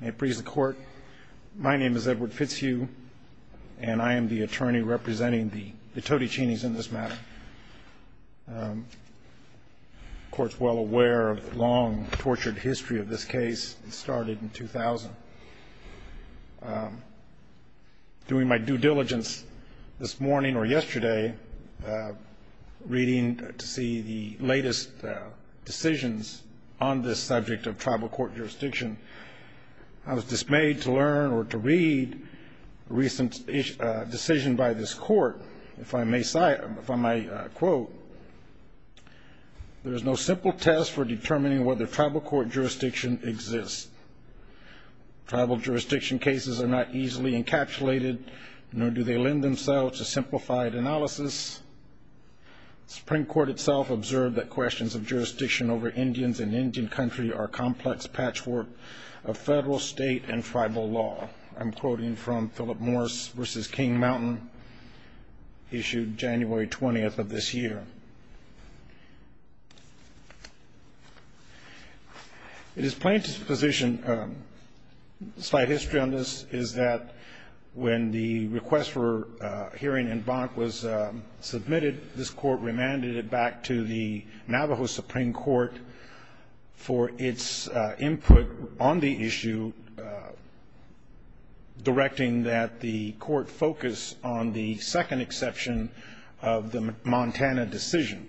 May it please the court, my name is Edward Fitzhugh, and I am the attorney representing the Todechene's in this matter. The court's well aware of the long, tortured history of this case. It started in 2000. During my due diligence this morning or yesterday, reading to see the latest decisions on this subject of tribal court jurisdiction, I was dismayed to learn or to read a recent decision by this court. If I may cite from my quote, there is no simple test for determining whether tribal court jurisdiction exists. Tribal jurisdiction cases are not easily encapsulated, nor do they lend themselves to simplified analysis. The Supreme Court itself observed that questions of jurisdiction over Indians in Indian country are complex patchwork of federal, state, and tribal law. I'm quoting from Philip Morris v. King Mountain, issued January 20th of this year. It is plain to position, slight history on this, is that when the request for hearing in Bonk was submitted, this court remanded it back to the Navajo Supreme Court for its input on the issue, directing that the court focus on the second exception of the Montana decision.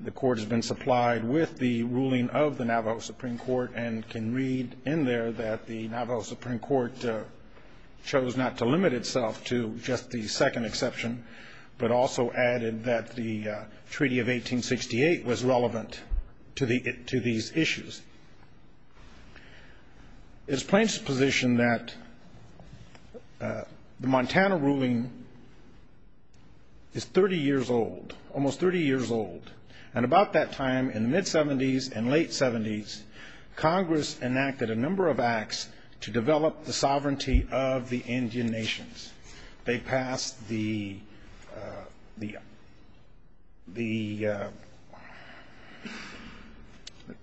The court has been supplied with the ruling of the Navajo Supreme Court and can read in there that the Navajo Supreme Court chose not to limit itself to just the second exception, but also added that the Treaty of 1868 was relevant to these issues. It is plain to position that the Montana ruling is 30 years old, almost 30 years old, and about that time in the mid-'70s and late-'70s, Congress enacted a number of acts to develop the sovereignty of the Indian nations. They passed the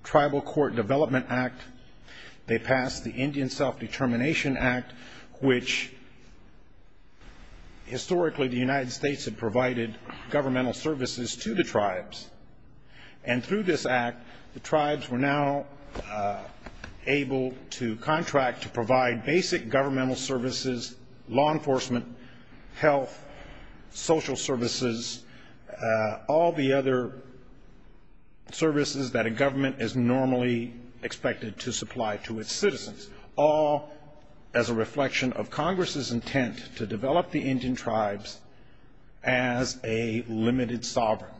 Tribal Court Development Act. They passed the Indian Self-Determination Act, which historically the United States had provided governmental services to the tribes. And through this act, the tribes were now able to contract to provide basic governmental services, law enforcement, health, social services, all the other services that a government is normally expected to supply to its citizens, as a reflection of Congress's intent to develop the Indian tribes as a limited sovereign.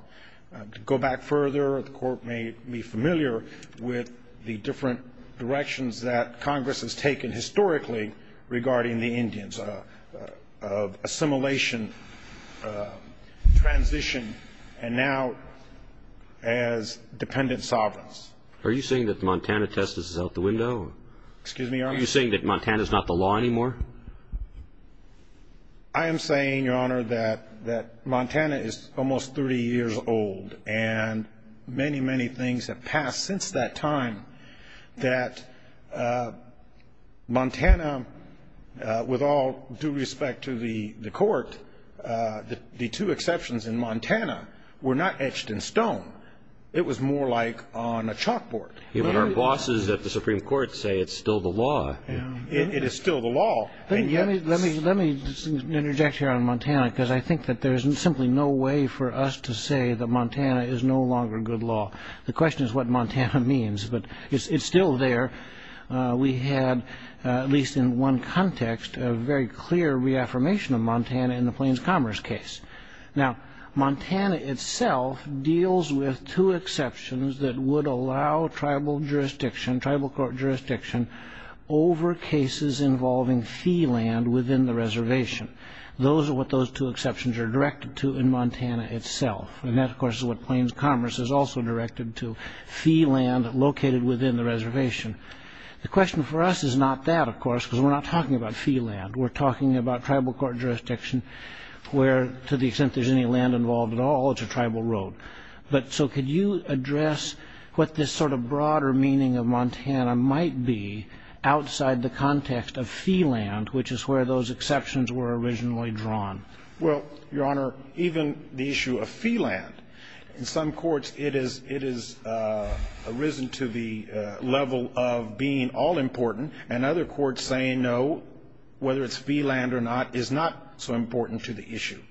To go back further, the court may be familiar with the different directions that Congress has taken historically regarding the Indians, of assimilation, transition, and now as dependent sovereigns. Are you saying that the Montana test is out the window? Are you saying that Montana is not the law anymore? I am saying, Your Honor, that Montana is almost 30 years old, and many, many things have passed since that time that Montana, with all due respect to the court, the two exceptions in Montana were not etched in stone. It was more like on a chalkboard. But our bosses at the Supreme Court say it's still the law. It is still the law. Let me interject here on Montana, because I think that there is simply no way for us to say that Montana is no longer good law. The question is what Montana means, but it's still there. We had, at least in one context, a very clear reaffirmation of Montana in the Plains Commerce case. Now, Montana itself deals with two exceptions that would allow tribal jurisdiction, tribal court jurisdiction, over cases involving fee land within the reservation. Those are what those two exceptions are directed to in Montana itself. And that, of course, is what Plains Commerce is also directed to, fee land located within the reservation. The question for us is not that, of course, because we're not talking about fee land. We're talking about tribal court jurisdiction where, to the extent there's any land involved at all, it's a tribal road. But so could you address what this sort of broader meaning of Montana might be outside the context of fee land, which is where those exceptions were originally drawn? Well, Your Honor, even the issue of fee land, in some courts it has arisen to the level of being all-important, and other courts saying no, whether it's fee land or not, is not so important to the issue.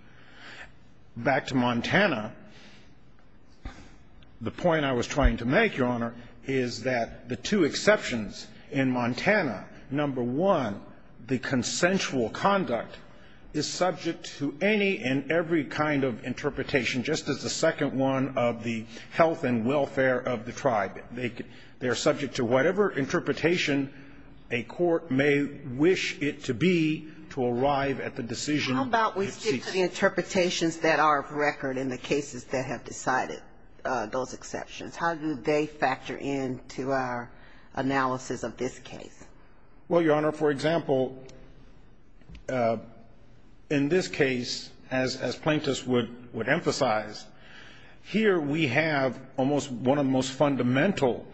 Back to Montana, the point I was trying to make, Your Honor, is that the two exceptions in Montana, number one, the consensual conduct is subject to any and every kind of interpretation, just as the second one of the health and welfare of the tribe. They are subject to whatever interpretation a court may wish it to be to arrive at the decision it seeks. How about we stick to the interpretations that are of record in the cases that have decided those exceptions? How do they factor into our analysis of this case? Well, Your Honor, for example, in this case, as plaintiffs would emphasize, here we have almost one of the most fundamental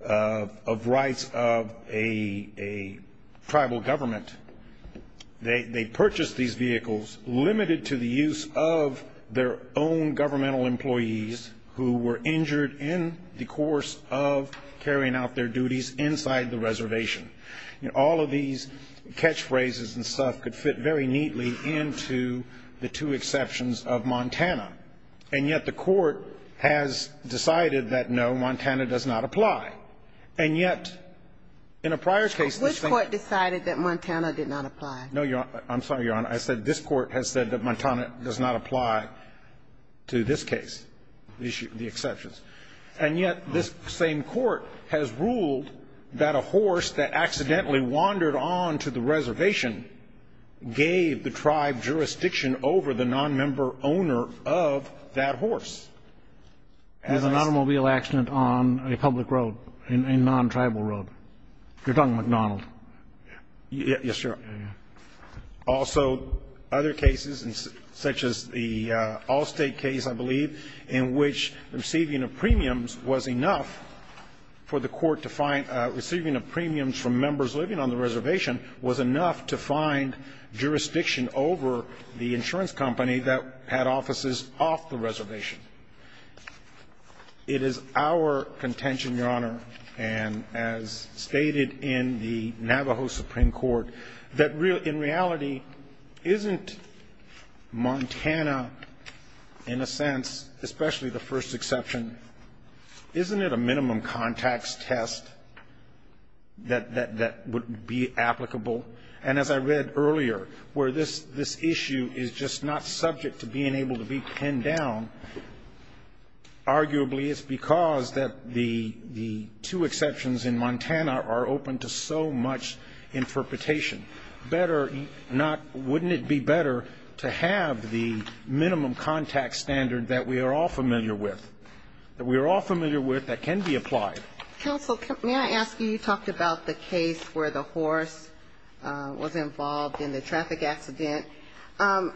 of rights of a tribal government. They purchased these vehicles limited to the use of their own governmental employees who were injured in the course of carrying out their duties inside the reservation. You know, all of these catchphrases and stuff could fit very neatly into the two exceptions of Montana. And yet the court has decided that, no, Montana does not apply. And yet, in a prior case, this thing was decided that Montana did not apply. No, Your Honor. I'm sorry, Your Honor. I said this Court has said that Montana does not apply to this case, the exceptions. And yet this same court has ruled that a horse that accidentally wandered on to the reservation gave the tribe jurisdiction over the nonmember owner of that horse. There's an automobile accident on a public road, a nontribal road. You're talking McDonald. Yes, Your Honor. Also, other cases, such as the Allstate case, I believe, in which receiving of premiums was enough for the court to find — receiving of premiums from members living on the reservation was enough to find jurisdiction over the insurance company that had offices off the reservation. It is our contention, Your Honor, and as stated in the Navajo Supreme Court, that in reality, isn't Montana, in a sense, especially the first exception, isn't it a minimum contacts test that would be applicable? And as I read earlier, where this issue is just not subject to being able to be pinned down, arguably it's because the two exceptions in Montana are open to so much interpretation. Better not — wouldn't it be better to have the minimum contacts standard that we are all familiar with, that we are all familiar with, that can be applied? Counsel, may I ask you, you talked about the case where the horse was involved in the traffic accident. And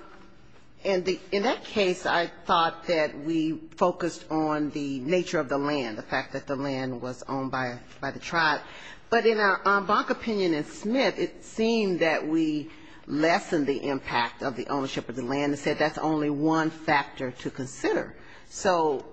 in that case, I thought that we focused on the nature of the land, the fact that the land was owned by the tribe. But in our bonk opinion in Smith, it seemed that we lessened the impact of the ownership of the land and said that's only one factor to consider. So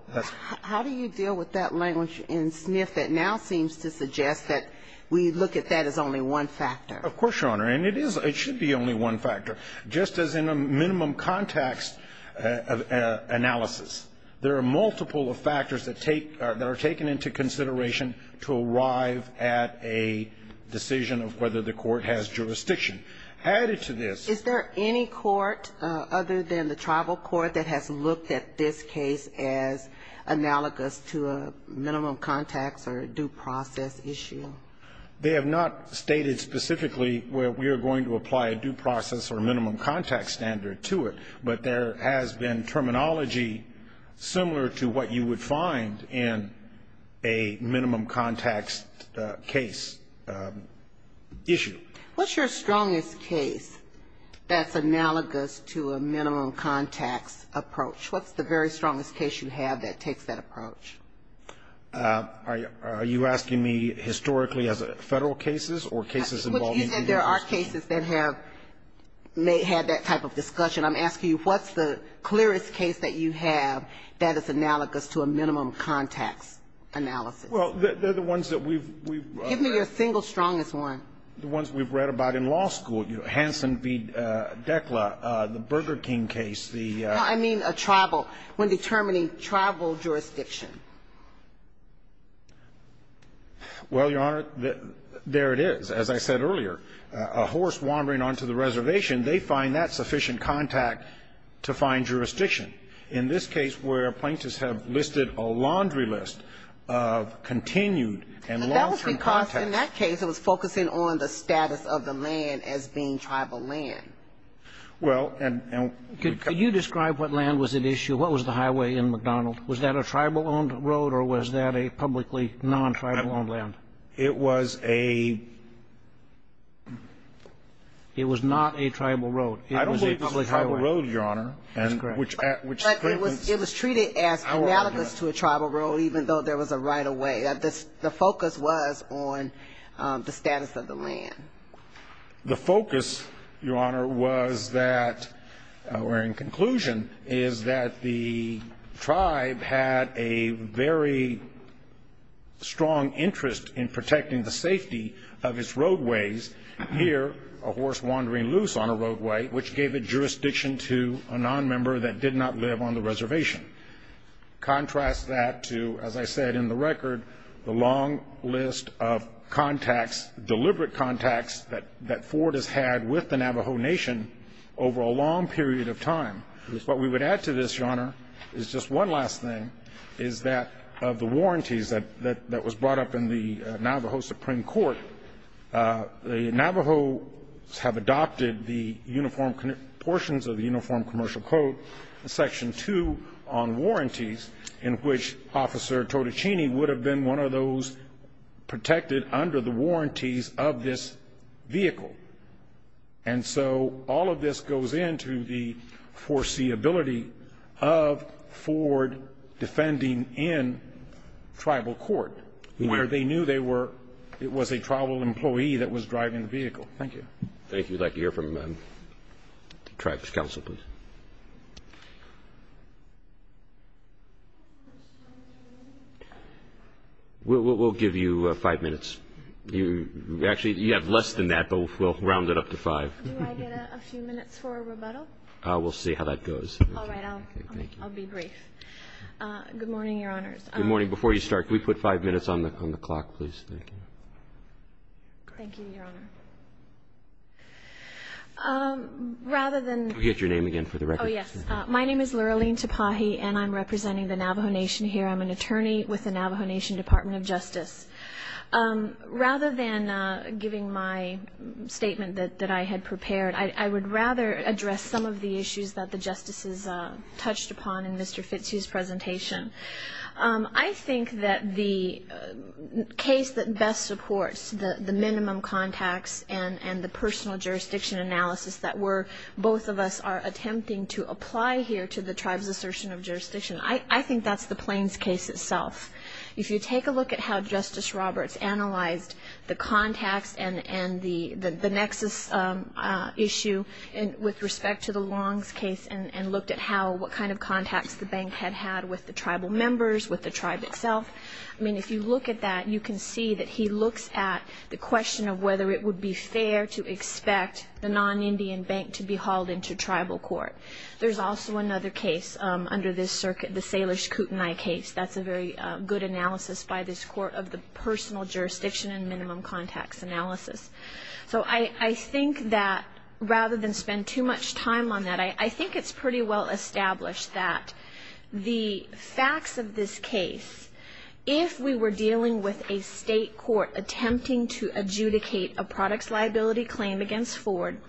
how do you deal with that language in Smith that now seems to suggest that we look at that as only one factor? Of course, Your Honor. And it is — it should be only one factor. Just as in a minimum contacts analysis, there are multiple factors that take — that are taken into consideration to arrive at a decision of whether the court has jurisdiction. Added to this — Is there any court other than the tribal court that has looked at this case as analogous to a minimum contacts or due process issue? They have not stated specifically where we are going to apply a due process or minimum contacts standard to it. But there has been terminology similar to what you would find in a minimum contacts case issue. What's your strongest case that's analogous to a minimum contacts approach? What's the very strongest case you have that takes that approach? Are you asking me historically as a Federal cases or cases involving the U.S. Court? You said there are cases that have had that type of discussion. I'm asking you what's the clearest case that you have that is analogous to a minimum contacts analysis? Well, they're the ones that we've — Give me your single strongest one. The ones we've read about in law school. Hansen v. Dekla, the Burger King case, the — I mean a tribal — when determining tribal jurisdiction. Well, Your Honor, there it is. As I said earlier, a horse wandering onto the reservation, they find that sufficient contact to find jurisdiction. In this case where plaintiffs have listed a laundry list of continued and long-term contacts — But it's not on the status of the land as being tribal land. Well, and — Could you describe what land was at issue? What was the highway in McDonald? Was that a tribal-owned road or was that a publicly non-tribal-owned land? It was a — It was not a tribal road. I don't believe it was a tribal road, Your Honor. That's correct. But it was treated as analogous to a tribal road, even though there was a right-of-way. The focus was on the status of the land. The focus, Your Honor, was that — or in conclusion, is that the tribe had a very strong interest in protecting the safety of its roadways. Here, a horse wandering loose on a roadway, which gave a jurisdiction to a nonmember that did not live on the reservation. Contrast that to, as I said in the record, the long list of contacts, deliberate contacts, that Ford has had with the Navajo Nation over a long period of time. What we would add to this, Your Honor, is just one last thing, is that of the warranties that was brought up in the Navajo Supreme Court, the Navajos have adopted the uniform — Section 2 on warranties, in which Officer Totichini would have been one of those protected under the warranties of this vehicle. And so all of this goes into the foreseeability of Ford defending in tribal court, where they knew they were — it was a tribal employee that was driving the vehicle. Thank you. Thank you. I'd like to hear from the tribe's counsel, please. We'll give you five minutes. Actually, you have less than that, but we'll round it up to five. Do I get a few minutes for a rebuttal? We'll see how that goes. All right. I'll be brief. Good morning, Your Honors. Good morning. Before you start, can we put five minutes on the clock, please? Thank you. Thank you, Your Honor. Rather than — Can we get your name again for the record? Oh, yes. My name is Luralene Tapahi, and I'm representing the Navajo Nation here. I'm an attorney with the Navajo Nation Department of Justice. Rather than giving my statement that I had prepared, I would rather address some of the issues that the Justices touched upon in Mr. Fitzhugh's presentation. I think that the case that best supports the minimum contacts and the personal jurisdiction analysis that both of us are attempting to apply here to the tribe's assertion of jurisdiction, I think that's the Plains case itself. If you take a look at how Justice Roberts analyzed the contacts and the nexus issue with respect to the Longs case and looked at what kind of contacts the bank had had with the tribal members, with the tribe itself, I mean, if you look at that, you can see that he looks at the question of whether it would be fair to expect the non-Indian bank to be hauled into tribal court. There's also another case under this circuit, the Sailors Kootenai case. That's a very good analysis by this Court of the personal jurisdiction and minimum contacts analysis. So I think that rather than spend too much time on that, I think it's pretty well established that the facts of this case, if we were dealing with a state court attempting to adjudicate a products liability claim against Ford,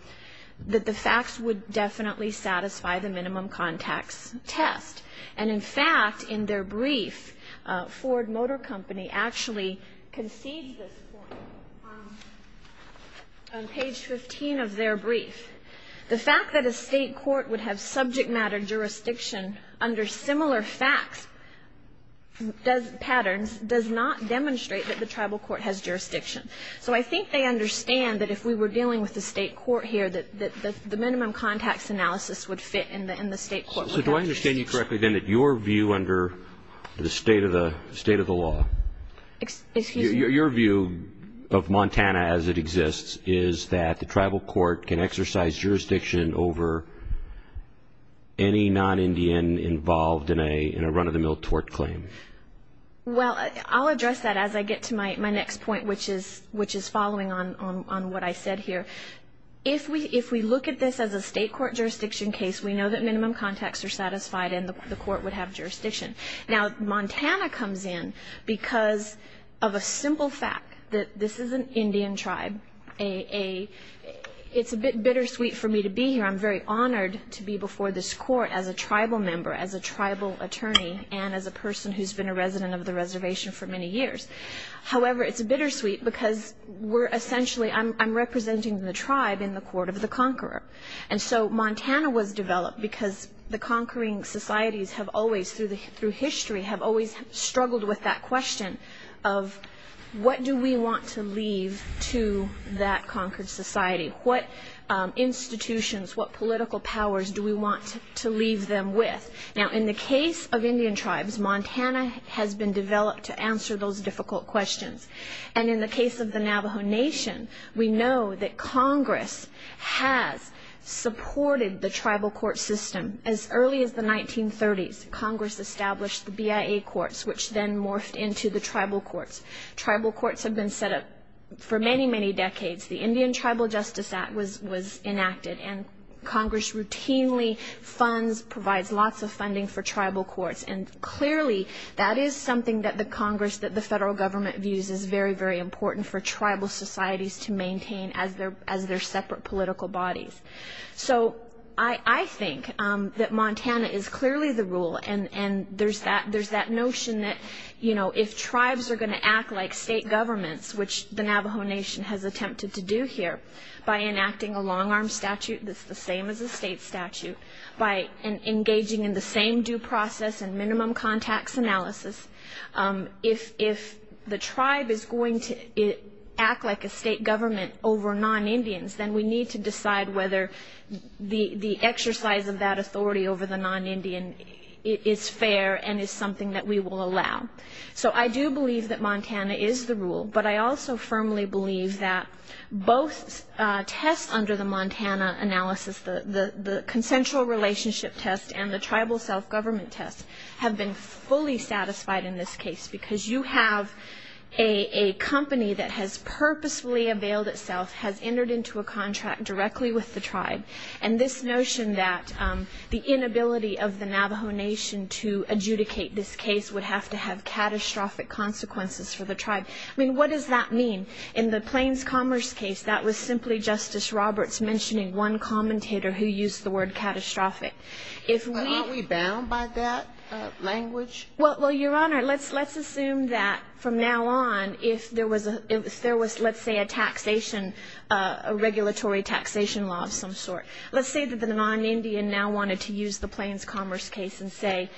that the facts would definitely satisfy the minimum contacts test. And in fact, in their brief, Ford Motor Company actually concedes this point. On page 15 of their brief, the fact that a state court would have subject matter jurisdiction under similar facts, patterns, does not demonstrate that the tribal court has jurisdiction. So I think they understand that if we were dealing with a state court here, that the minimum contacts analysis would fit in the state court. So do I understand you correctly, then, that your view under the state of the law, your view of Montana as it exists, is that the tribal court can exercise jurisdiction over any non-Indian involved in a run-of-the-mill tort claim? Well, I'll address that as I get to my next point, which is following on what I said here. If we look at this as a state court jurisdiction case, we know that minimum contacts are satisfied and the court would have jurisdiction. Now, Montana comes in because of a simple fact, that this is an Indian tribe. It's a bit bittersweet for me to be here. I'm very honored to be before this court as a tribal member, as a tribal attorney, and as a person who's been a resident of the reservation for many years. However, it's bittersweet because we're essentially, I'm representing the tribe in the court of the conqueror. And so Montana was developed because the conquering societies have always, through history, have always struggled with that question of, what do we want to leave to that conquered society? What institutions, what political powers do we want to leave them with? Now, in the case of Indian tribes, Montana has been developed to answer those difficult questions. And in the case of the Navajo Nation, we know that Congress has supported the tribal court system. As early as the 1930s, Congress established the BIA courts, which then morphed into the tribal courts. Tribal courts have been set up for many, many decades. The Indian Tribal Justice Act was enacted, and Congress routinely funds, provides lots of funding for tribal courts. And clearly, that is something that the Congress, that the federal government views as very, very important for tribal societies to maintain as their separate political bodies. So I think that Montana is clearly the rule, and there's that notion that if tribes are going to act like state governments, which the Navajo Nation has attempted to do here by enacting a long-arm statute that's the same as a state statute, by engaging in the same due process and minimum contacts analysis, if the tribe is going to act like a state government over non-Indians, then we need to decide whether the exercise of that authority over the non-Indian is fair and is something that we will allow. So I do believe that Montana is the rule, but I also firmly believe that both tests under the Montana analysis, the consensual relationship test and the tribal self-government test, have been fully satisfied in this case, because you have a company that has purposefully availed itself, has entered into a contract directly with the tribe, and this notion that the inability of the Navajo Nation to adjudicate this case would have to have catastrophic consequences for the tribe. I mean, what does that mean? In the Plains Commerce case, that was simply Justice Roberts mentioning one commentator who used the word catastrophic. Aren't we bound by that language? Well, Your Honor, let's assume that from now on if there was, let's say, a taxation, a regulatory taxation law of some sort. Let's say that the non-Indian now wanted to use the Plains Commerce case and say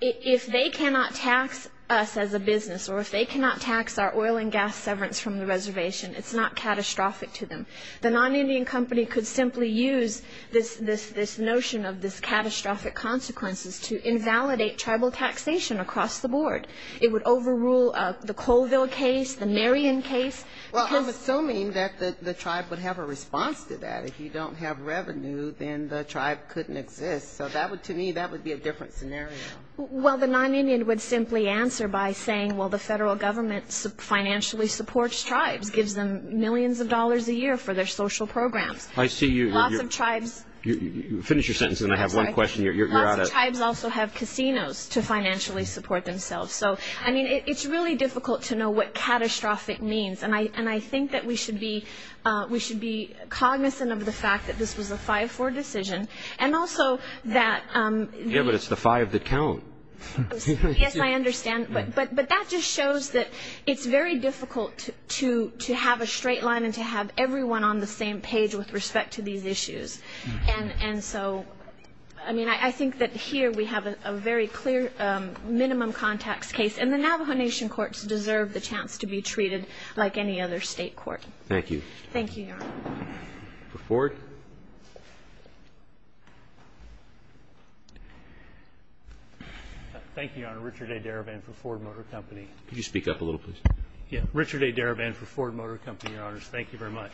if they cannot tax us as a business or if they cannot tax our oil and gas severance from the reservation, it's not catastrophic to them. The non-Indian company could simply use this notion of this catastrophic consequences to invalidate tribal taxation across the board. It would overrule the Colville case, the Marion case. Well, I'm assuming that the tribe would have a response to that. If you don't have revenue, then the tribe couldn't exist. So to me, that would be a different scenario. Well, the non-Indian would simply answer by saying, well, the federal government financially supports tribes, gives them millions of dollars a year for their social programs. I see you. Lots of tribes. Finish your sentence and I have one question. Lots of tribes also have casinos to financially support themselves. So, I mean, it's really difficult to know what catastrophic means. And I think that we should be cognizant of the fact that this was a 5-4 decision. And also that the. Yeah, but it's the five that count. Yes, I understand. But that just shows that it's very difficult to have a straight line and to have everyone on the same page with respect to these issues. And so, I mean, I think that here we have a very clear minimum contacts case. And the Navajo Nation courts deserve the chance to be treated like any other state court. Thank you. Thank you, Your Honor. For Ford? Thank you, Your Honor. Richard A. Darabin for Ford Motor Company. Could you speak up a little, please? Yeah. Richard A. Darabin for Ford Motor Company, Your Honors. Thank you very much.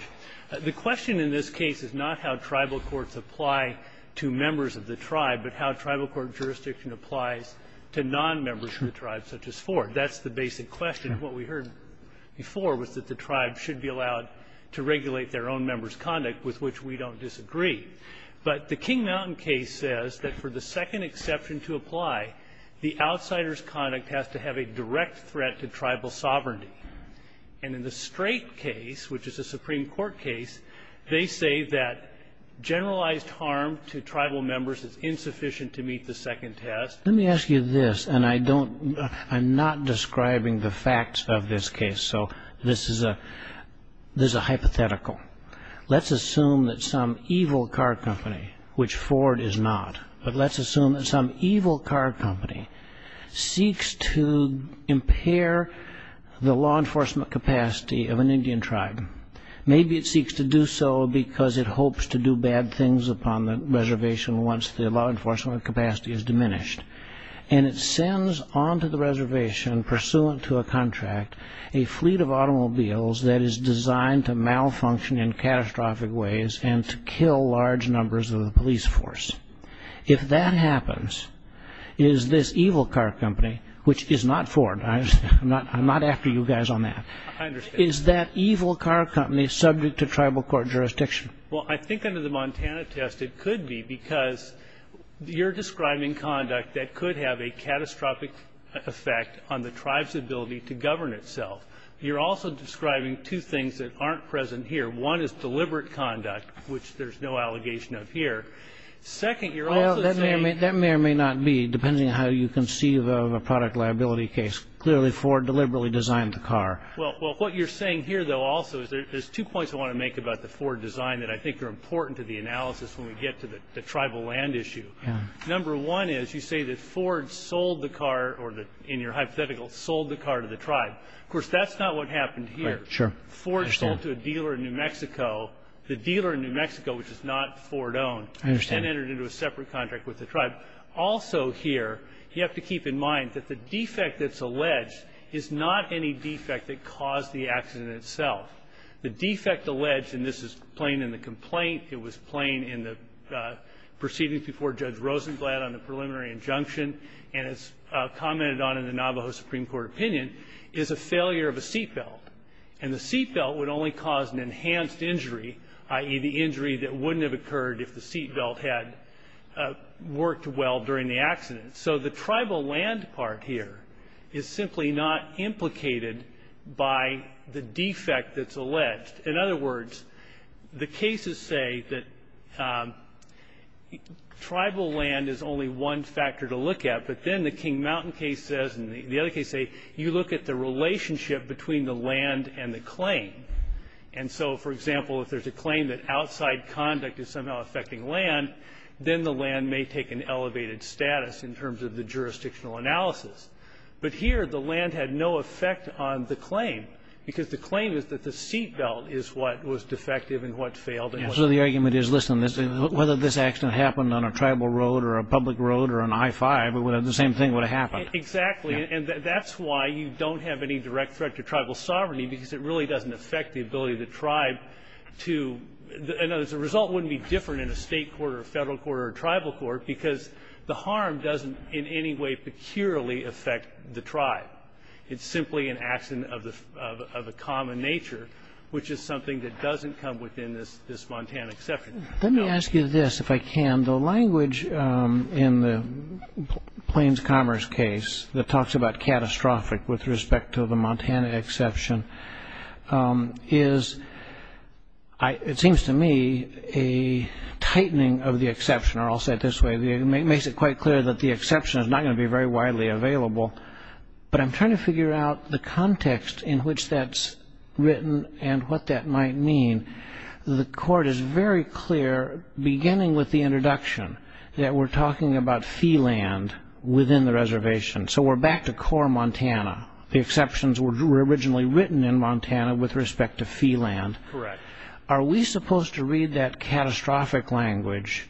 The question in this case is not how tribal courts apply to members of the tribe, but how tribal court jurisdiction applies to nonmembers of the tribe, such as Ford. That's the basic question. What we heard before was that the tribe should be allowed to regulate their own members' conduct, with which we don't disagree. But the King Mountain case says that for the second exception to apply, the outsider's conduct has to have a direct threat to tribal sovereignty. And in the Strait case, which is a Supreme Court case, they say that generalized harm to tribal members is insufficient to meet the second test. Let me ask you this, and I'm not describing the facts of this case, so this is a hypothetical. Let's assume that some evil car company, which Ford is not, but let's assume that some evil car company seeks to impair the law enforcement capacity of an Indian tribe. Maybe it seeks to do so because it hopes to do bad things upon the reservation once the law enforcement capacity is diminished. And it sends onto the reservation, pursuant to a contract, a fleet of automobiles that is designed to malfunction in catastrophic ways and to kill large numbers of the police force. If that happens, is this evil car company, which is not Ford, I'm not after you guys on that, is that evil car company subject to tribal court jurisdiction? Well, I think under the Montana test it could be because you're describing conduct that could have a catastrophic effect on the tribe's ability to govern itself. You're also describing two things that aren't present here. One is deliberate conduct, which there's no allegation of here. Second, you're also saying ---- Well, that may or may not be, depending on how you conceive of a product liability case. Clearly Ford deliberately designed the car. Well, what you're saying here, though, also, is there's two points I want to make about the Ford design that I think are important to the analysis when we get to the tribal land issue. Number one is you say that Ford sold the car or, in your hypothetical, sold the car to the tribe. Of course, that's not what happened here. Sure. Ford sold to a dealer in New Mexico. The dealer in New Mexico, which is not Ford-owned, then entered into a separate contract with the tribe. Also here, you have to keep in mind that the defect that's alleged is not any defect that caused the accident itself. The defect alleged, and this is plain in the complaint, it was plain in the proceedings before Judge Rosenglad on the preliminary injunction, and it's commented on in the Navajo Supreme Court opinion, is a failure of a seat belt. And the seat belt would only cause an enhanced injury, i.e., the injury that wouldn't have occurred if the seat belt had worked well during the accident. So the tribal land part here is simply not implicated by the defect that's alleged. In other words, the cases say that tribal land is only one factor to look at, but then the King Mountain case says and the other case say you look at the relationship between the land and the claim. And so, for example, if there's a claim that outside conduct is somehow affecting land, then the land may take an elevated status in terms of the jurisdictional analysis. But here, the land had no effect on the claim because the claim is that the seat belt is what was defective and what failed. And so the argument is, listen, whether this accident happened on a tribal road or a public road or an I-5, the same thing would have happened. Exactly. And that's why you don't have any direct threat to tribal sovereignty because it really doesn't affect the ability of the tribe to – and the result wouldn't be different in a state court or a federal court or a tribal court because the harm doesn't in any way peculiarly affect the tribe. It's simply an accident of a common nature, which is something that doesn't come within this Montana exception. Let me ask you this, if I can. The language in the Plains Commerce case that talks about catastrophic with respect to the Montana exception is, it seems to me, a tightening of the exception. Or I'll say it this way. It makes it quite clear that the exception is not going to be very widely available. But I'm trying to figure out the context in which that's written and what that might mean. The court is very clear, beginning with the introduction, that we're talking about fee land within the reservation. So we're back to core Montana. The exceptions were originally written in Montana with respect to fee land. Correct. Are we supposed to read that catastrophic language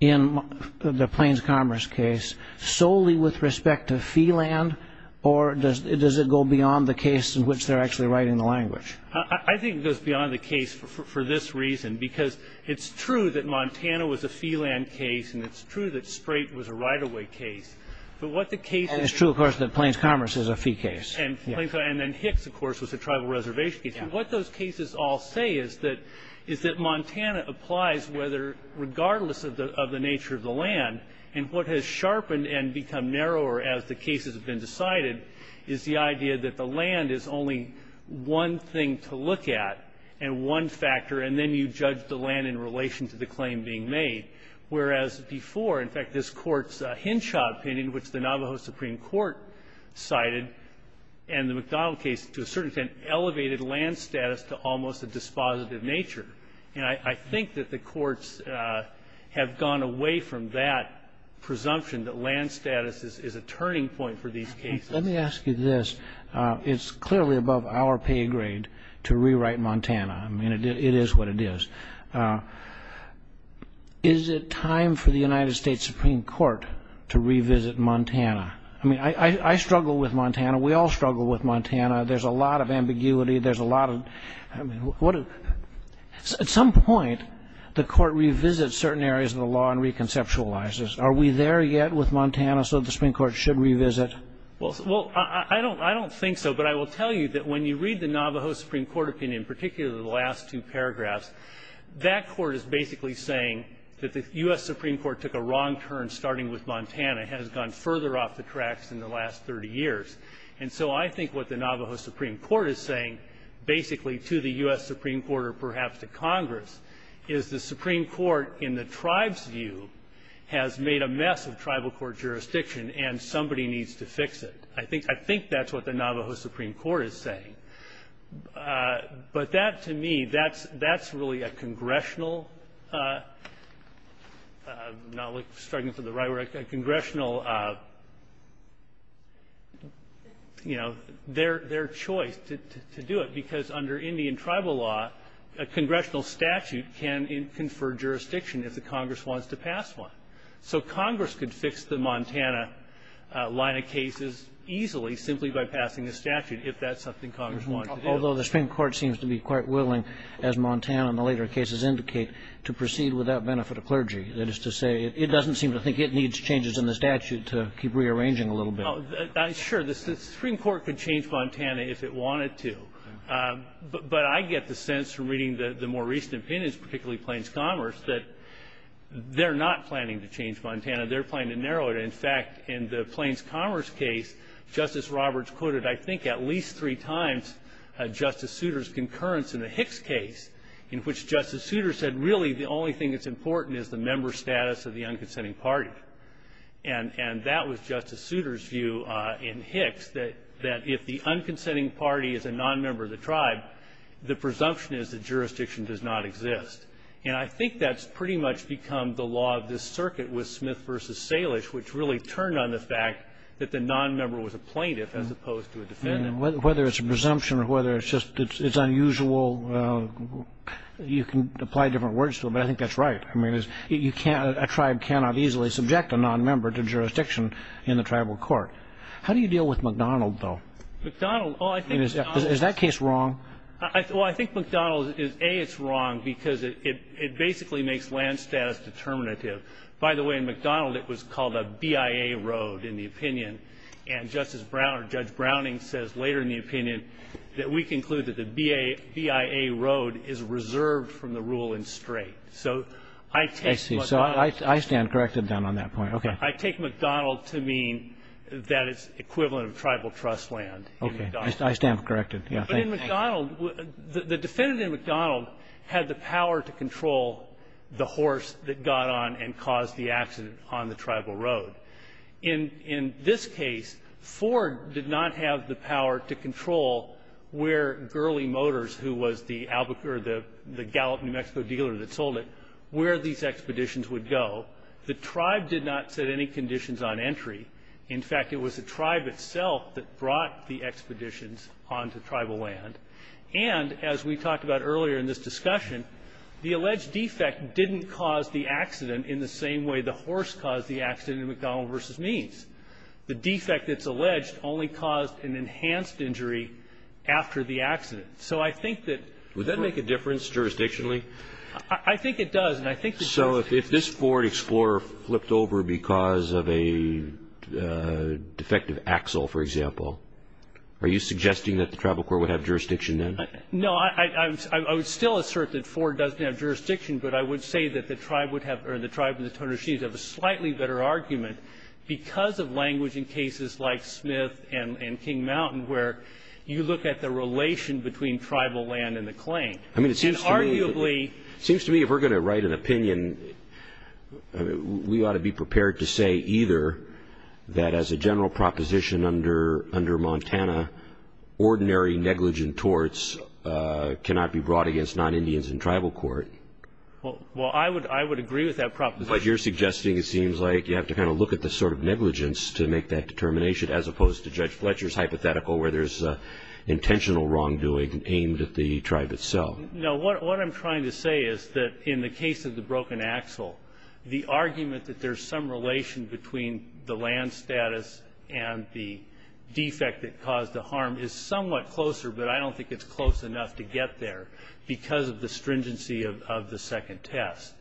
in the Plains Commerce case solely with respect to fee land, or does it go beyond the case in which they're actually writing the language? I think it goes beyond the case for this reason because it's true that Montana was a fee land case and it's true that Sprate was a right-of-way case. And it's true, of course, that Plains Commerce is a fee case. And then Hicks, of course, was a tribal reservation case. What those cases all say is that Montana applies regardless of the nature of the land. And what has sharpened and become narrower as the cases have been decided is the idea that the land is only one thing to look at and one factor, and then you judge the land in relation to the claim being made. Whereas before, in fact, this Court's Hinshaw opinion, which the Navajo Supreme Court cited, and the McDonald case to a certain extent elevated land status to almost a dispositive nature. And I think that the courts have gone away from that presumption that land status is a turning point for these cases. Let me ask you this. It's clearly above our pay grade to rewrite Montana. I mean, it is what it is. Is it time for the United States Supreme Court to revisit Montana? I mean, I struggle with Montana. We all struggle with Montana. There's a lot of ambiguity. There's a lot of, I mean, at some point, the Court revisits certain areas of the law and reconceptualizes. Are we there yet with Montana so the Supreme Court should revisit? Well, I don't think so. But I will tell you that when you read the Navajo Supreme Court opinion, particularly the last two paragraphs, that court is basically saying that the U.S. Supreme Court took a wrong turn starting with Montana, has gone further off the tracks in the last 30 years. And so I think what the Navajo Supreme Court is saying basically to the U.S. Supreme Court or perhaps to Congress is the Supreme Court, in the tribe's view, has made a mess of tribal court jurisdiction, and somebody needs to fix it. I think that's what the Navajo Supreme Court is saying. But that, to me, that's really a congressional, not like struggling for the right word, a congressional, you know, their choice to do it because under Indian tribal law, a congressional statute can confer jurisdiction if the Congress wants to pass one. So Congress could fix the Montana line of cases easily simply by passing a statute if that's something Congress wanted to do. Although the Supreme Court seems to be quite willing, as Montana and the later cases indicate, to proceed without benefit of clergy. That is to say, it doesn't seem to think it needs changes in the statute to keep rearranging a little bit. Sure. The Supreme Court could change Montana if it wanted to. But I get the sense from reading the more recent opinions, particularly Plains Commerce, that they're not planning to change Montana. They're planning to narrow it. In fact, in the Plains Commerce case, Justice Roberts quoted, I think, at least three times Justice Souter's concurrence in the Hicks case, in which Justice Souter said, really, the only thing that's important is the member status of the unconsenting party. And that was Justice Souter's view in Hicks, that if the unconsenting party is a nonmember of the tribe, the presumption is that jurisdiction does not exist. And I think that's pretty much become the law of this circuit with Smith v. Salish, which really turned on the fact that the nonmember was a plaintiff as opposed to a defendant. Whether it's a presumption or whether it's just it's unusual, you can apply different words to it, but I think that's right. I mean, a tribe cannot easily subject a nonmember to jurisdiction in the tribal court. How do you deal with McDonald, though? McDonald? Is that case wrong? Well, I think McDonald is, A, it's wrong because it basically makes land status determinative. By the way, in McDonald, it was called a BIA road in the opinion. And Justice Brown or Judge Browning says later in the opinion that we conclude that the BIA road is reserved from the rule in straight. So I take McDonald. I see. So I stand corrected then on that point. Okay. I take McDonald to mean that it's equivalent of tribal trust land. Okay. I stand corrected. But in McDonald, the defendant in McDonald had the power to control the horse that got on and caused the accident on the tribal road. In this case, Ford did not have the power to control where Gurley Motors, who was the Gallup New Mexico dealer that sold it, where these expeditions would go. The tribe did not set any conditions on entry. In fact, it was the tribe itself that brought the expeditions onto tribal land. And as we talked about earlier in this discussion, the alleged defect didn't cause the accident in the same way the horse caused the accident in McDonald v. Means. The defect that's alleged only caused an enhanced injury after the accident. So I think that – Would that make a difference jurisdictionally? I think it does. So if this Ford Explorer flipped over because of a defective axle, for example, are you suggesting that the tribal court would have jurisdiction then? No. I would still assert that Ford doesn't have jurisdiction, but I would say that the tribe would have – or the tribe of the Tonoshis have a slightly better argument because of language in cases like Smith and King Mountain where you look at the relation between tribal land and the claim. I mean, it seems to me – And arguably – It seems to me if we're going to write an opinion, we ought to be prepared to say either that as a general proposition under Montana, ordinary negligent torts cannot be brought against non-Indians in tribal court. Well, I would agree with that proposition. But you're suggesting it seems like you have to kind of look at the sort of negligence to make that determination as opposed to Judge Fletcher's hypothetical where there's intentional wrongdoing aimed at the tribe itself. No. What I'm trying to say is that in the case of the broken axle, the argument that there's some relation between the land status and the defect that caused the harm is somewhat closer, but I don't think it's close enough to get there because of the stringency of the second test,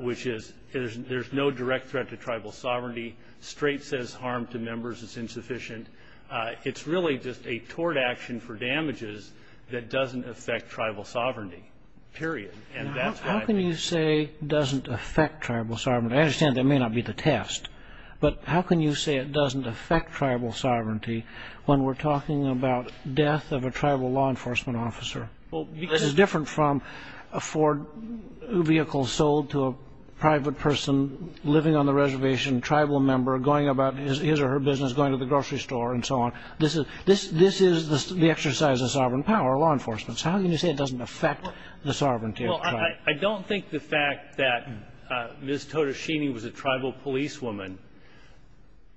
which is there's no direct threat to tribal sovereignty. Straight says harm to members is insufficient. It's really just a tort action for damages that doesn't affect tribal sovereignty, period. How can you say it doesn't affect tribal sovereignty? I understand that may not be the test, but how can you say it doesn't affect tribal sovereignty when we're talking about death of a tribal law enforcement officer? This is different from a Ford vehicle sold to a private person living on the reservation, tribal member going about his or her business, going to the grocery store, and so on. This is the exercise of sovereign power, law enforcement. How can you say it doesn't affect the sovereignty of the tribe? Well, I don't think the fact that Ms. Todashimi was a tribal policewoman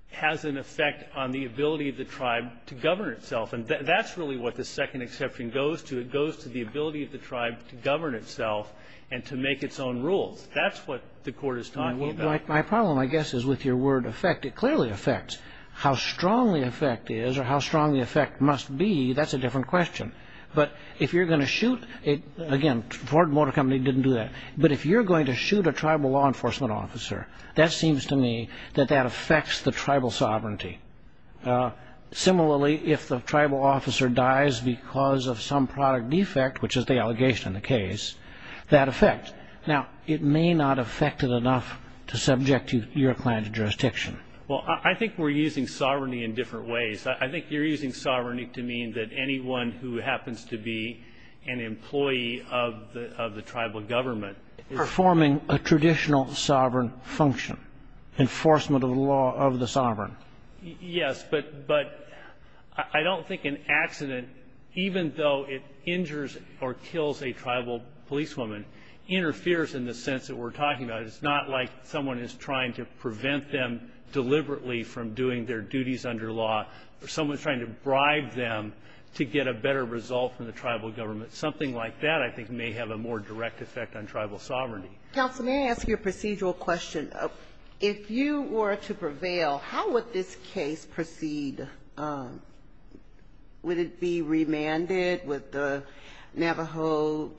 has an effect on the ability of the tribe to govern itself. And that's really what the second exception goes to. It goes to the ability of the tribe to govern itself and to make its own rules. That's what the Court is talking about. My problem, I guess, is with your word affect. It clearly affects. How strongly affect is or how strong the affect must be, that's a different question. But if you're going to shoot, again, Ford Motor Company didn't do that, but if you're going to shoot a tribal law enforcement officer, that seems to me that that affects the tribal sovereignty. Similarly, if the tribal officer dies because of some product defect, which is the allegation in the case, that affects. Now, it may not affect it enough to subject your clan to jurisdiction. Well, I think we're using sovereignty in different ways. I think you're using sovereignty to mean that anyone who happens to be an employee of the tribal government. Performing a traditional sovereign function, enforcement of the law of the sovereign. Yes, but I don't think an accident, even though it injures or kills a tribal policewoman, interferes in the sense that we're talking about. It's not like someone is trying to prevent them deliberately from doing their duties under law or someone's trying to bribe them to get a better result from the tribal government. Something like that, I think, may have a more direct effect on tribal sovereignty. Counsel, may I ask you a procedural question? If you were to prevail, how would this case proceed? Would it be remanded? Would the Navajo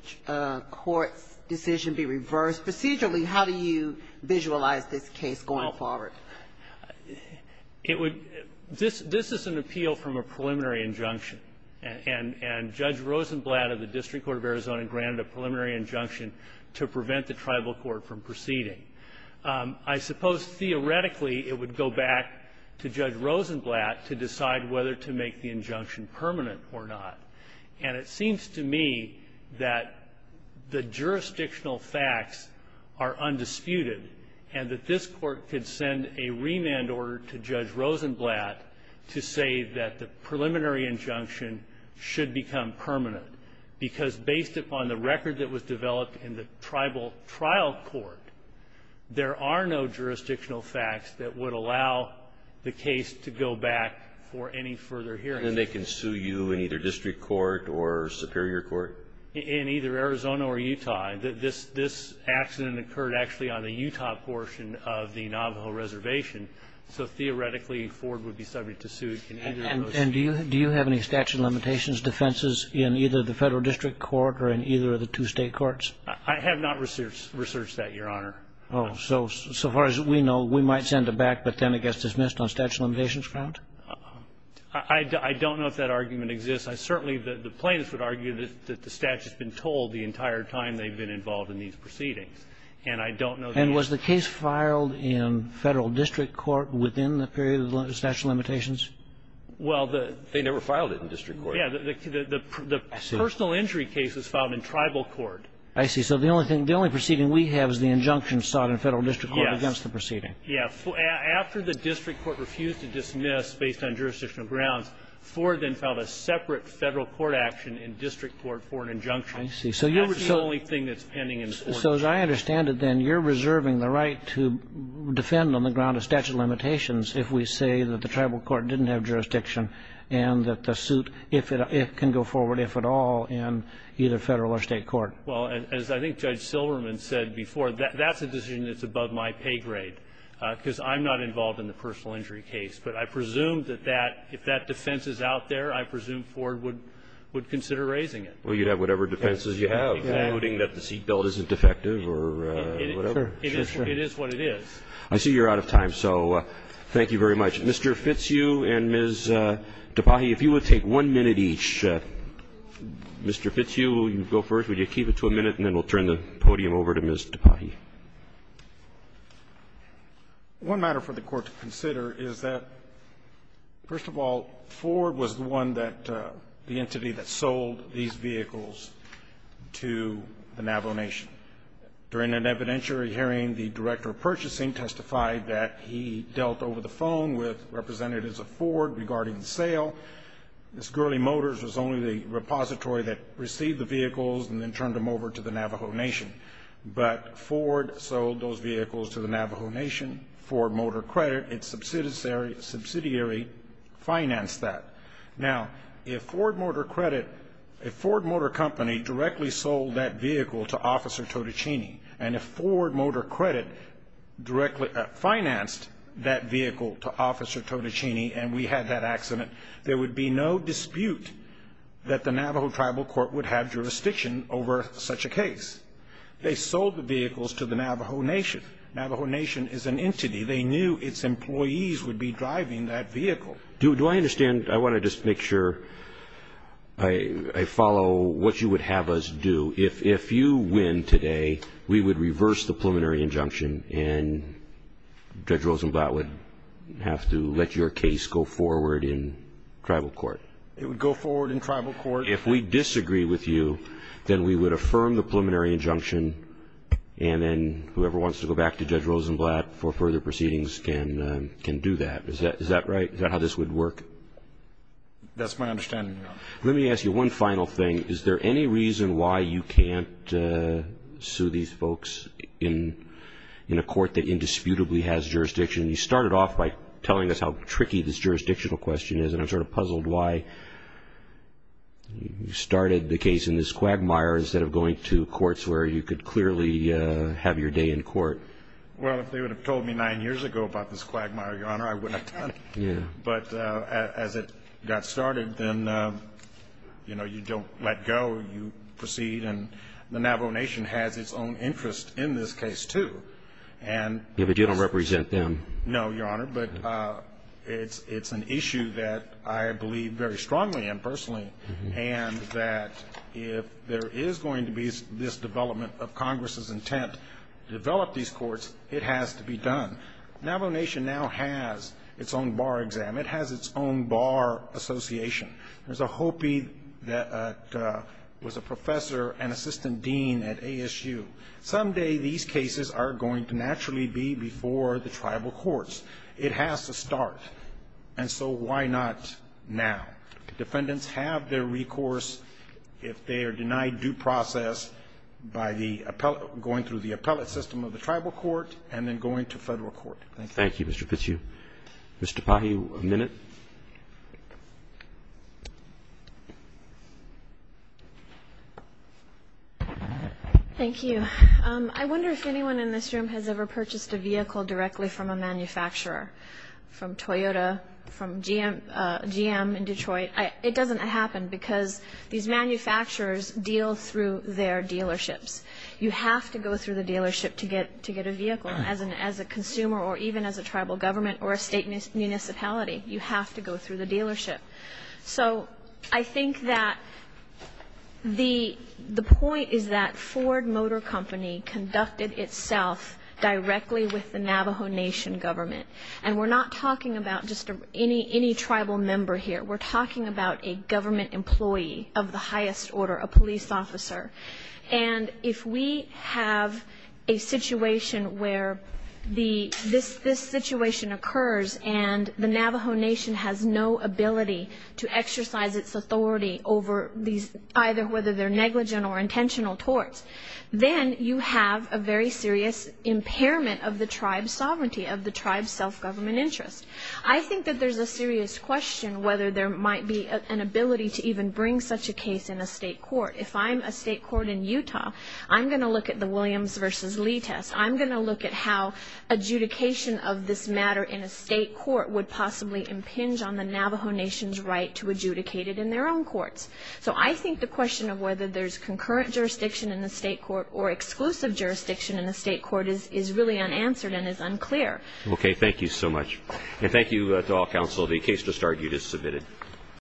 court's decision be reversed? Procedurally, how do you visualize this case going forward? This is an appeal from a preliminary injunction, and Judge Rosenblatt of the District Court of Arizona granted a preliminary injunction to prevent the tribal court from proceeding. I suppose theoretically it would go back to Judge Rosenblatt to decide whether to make the injunction permanent or not. And it seems to me that the jurisdictional facts are undisputed and that this court could send a remand order to Judge Rosenblatt to say that the preliminary injunction should become permanent, because based upon the record that was developed in the tribal trial court, there are no jurisdictional facts that would allow the case to go back for any further hearing. And they can sue you in either district court or superior court? In either Arizona or Utah. This accident occurred actually on the Utah portion of the Navajo reservation, so theoretically Ford would be subject to suit in either of those cases. And do you have any statute of limitations defenses in either the federal district court or in either of the two state courts? I have not researched that, Your Honor. So far as we know, we might send it back, but then it gets dismissed on statute of limitations ground? I don't know if that argument exists. Certainly the plaintiffs would argue that the statute's been told the entire time they've been involved in these proceedings. And I don't know the answer. And was the case filed in federal district court within the period of statute of limitations? Well, they never filed it in district court. Yeah, the personal injury case was filed in tribal court. I see. So the only proceeding we have is the injunction sought in federal district court against the proceeding. Yeah. After the district court refused to dismiss based on jurisdictional grounds, Ford then filed a separate federal court action in district court for an injunction. I see. That's the only thing that's pending in court. So as I understand it, then, you're reserving the right to defend on the ground of statute of limitations if we say that the tribal court didn't have jurisdiction and that the suit, if it can go forward, if at all, in either federal or state court. Well, as I think Judge Silverman said before, that's a decision that's above my pay grade, because I'm not involved in the personal injury case. But I presume that that, if that defense is out there, I presume Ford would consider raising it. Well, you'd have whatever defenses you have. Yeah. Including that the seat belt isn't defective or whatever. Sure. It is what it is. I see you're out of time. So thank you very much. Mr. Fitzhugh and Ms. Tapahi, if you would take one minute each. Mr. Fitzhugh, will you go first? Would you keep it to a minute, and then we'll turn the podium over to Ms. Tapahi. One matter for the Court to consider is that, first of all, Ford was the one that, the entity that sold these vehicles to the Navajo Nation. During an evidentiary hearing, the Director of Purchasing testified that he dealt over the phone with representatives of Ford regarding the sale. Ms. Gurley Motors was only the repository that received the vehicles and then turned them over to the Navajo Nation. But Ford sold those vehicles to the Navajo Nation for motor credit. Its subsidiary financed that. Now, if Ford Motor Credit, if Ford Motor Company directly sold that vehicle to Officer Totichini and if Ford Motor Credit directly financed that vehicle to Officer Totichini and we had that accident, there would be no dispute that the Navajo Tribal Court would have jurisdiction over such a case. They sold the vehicles to the Navajo Nation. Navajo Nation is an entity. They knew its employees would be driving that vehicle. Do I understand? I want to just make sure I follow what you would have us do. If you win today, we would reverse the preliminary injunction and Judge Rosenblatt would have to let your case go forward in Tribal Court. It would go forward in Tribal Court. If we disagree with you, then we would affirm the preliminary injunction and then whoever wants to go back to Judge Rosenblatt for further proceedings can do that. Is that right? Is that how this would work? That's my understanding, Your Honor. Let me ask you one final thing. Is there any reason why you can't sue these folks in a court that indisputably has jurisdiction? You started off by telling us how tricky this jurisdictional question is and I'm sort of puzzled why you started the case in this quagmire instead of going to courts where you could clearly have your day in court. Well, if they would have told me nine years ago about this quagmire, Your Honor, I would have done it. Yeah. But as it got started, then, you know, you don't let go. You proceed and the Navajo Nation has its own interest in this case, too. Yeah, but you don't represent them. No, Your Honor, but it's an issue that I believe very strongly in personally and that if there is going to be this development of Congress's intent to develop these courts, it has to be done. Navajo Nation now has its own bar exam. It has its own bar association. There's a Hopi that was a professor and assistant dean at ASU. Someday these cases are going to naturally be before the tribal courts. It has to start. And so why not now? Defendants have their recourse if they are denied due process by the appellate going through the appellate system of the tribal court and then going to federal court. Thank you. Thank you, Mr. Fitzhugh. Ms. Tapahi, a minute. Thank you. I wonder if anyone in this room has ever purchased a vehicle directly from a manufacturer, from Toyota, from GM in Detroit. It doesn't happen because these manufacturers deal through their dealerships. You have to go through the dealership to get a vehicle as a consumer or even as a tribal government or a state municipality. You have to go through the dealership. So I think that the point is that Ford Motor Company conducted itself directly with the And we're not talking about just any tribal member here. We're talking about a government employee of the highest order, a police officer. And if we have a situation where this situation occurs and the Navajo Nation has no ability to exercise its authority over these, either whether they're negligent or intentional torts, then you have a very serious impairment of the tribe's sovereignty, of the tribe's self-government interest. I think that there's a serious question whether there might be an ability to even bring such a case in a state court. If I'm a state court in Utah, I'm going to look at the Williams versus Lee test. I'm going to look at how adjudication of this matter in a state court would possibly impinge on the Navajo Nation's right to adjudicate it in their own courts. So I think the question of whether there's concurrent jurisdiction in the state court or exclusive jurisdiction in the state court is really unanswered and is unclear. Okay. Thank you so much. And thank you to all counsel. The case just argued is submitted.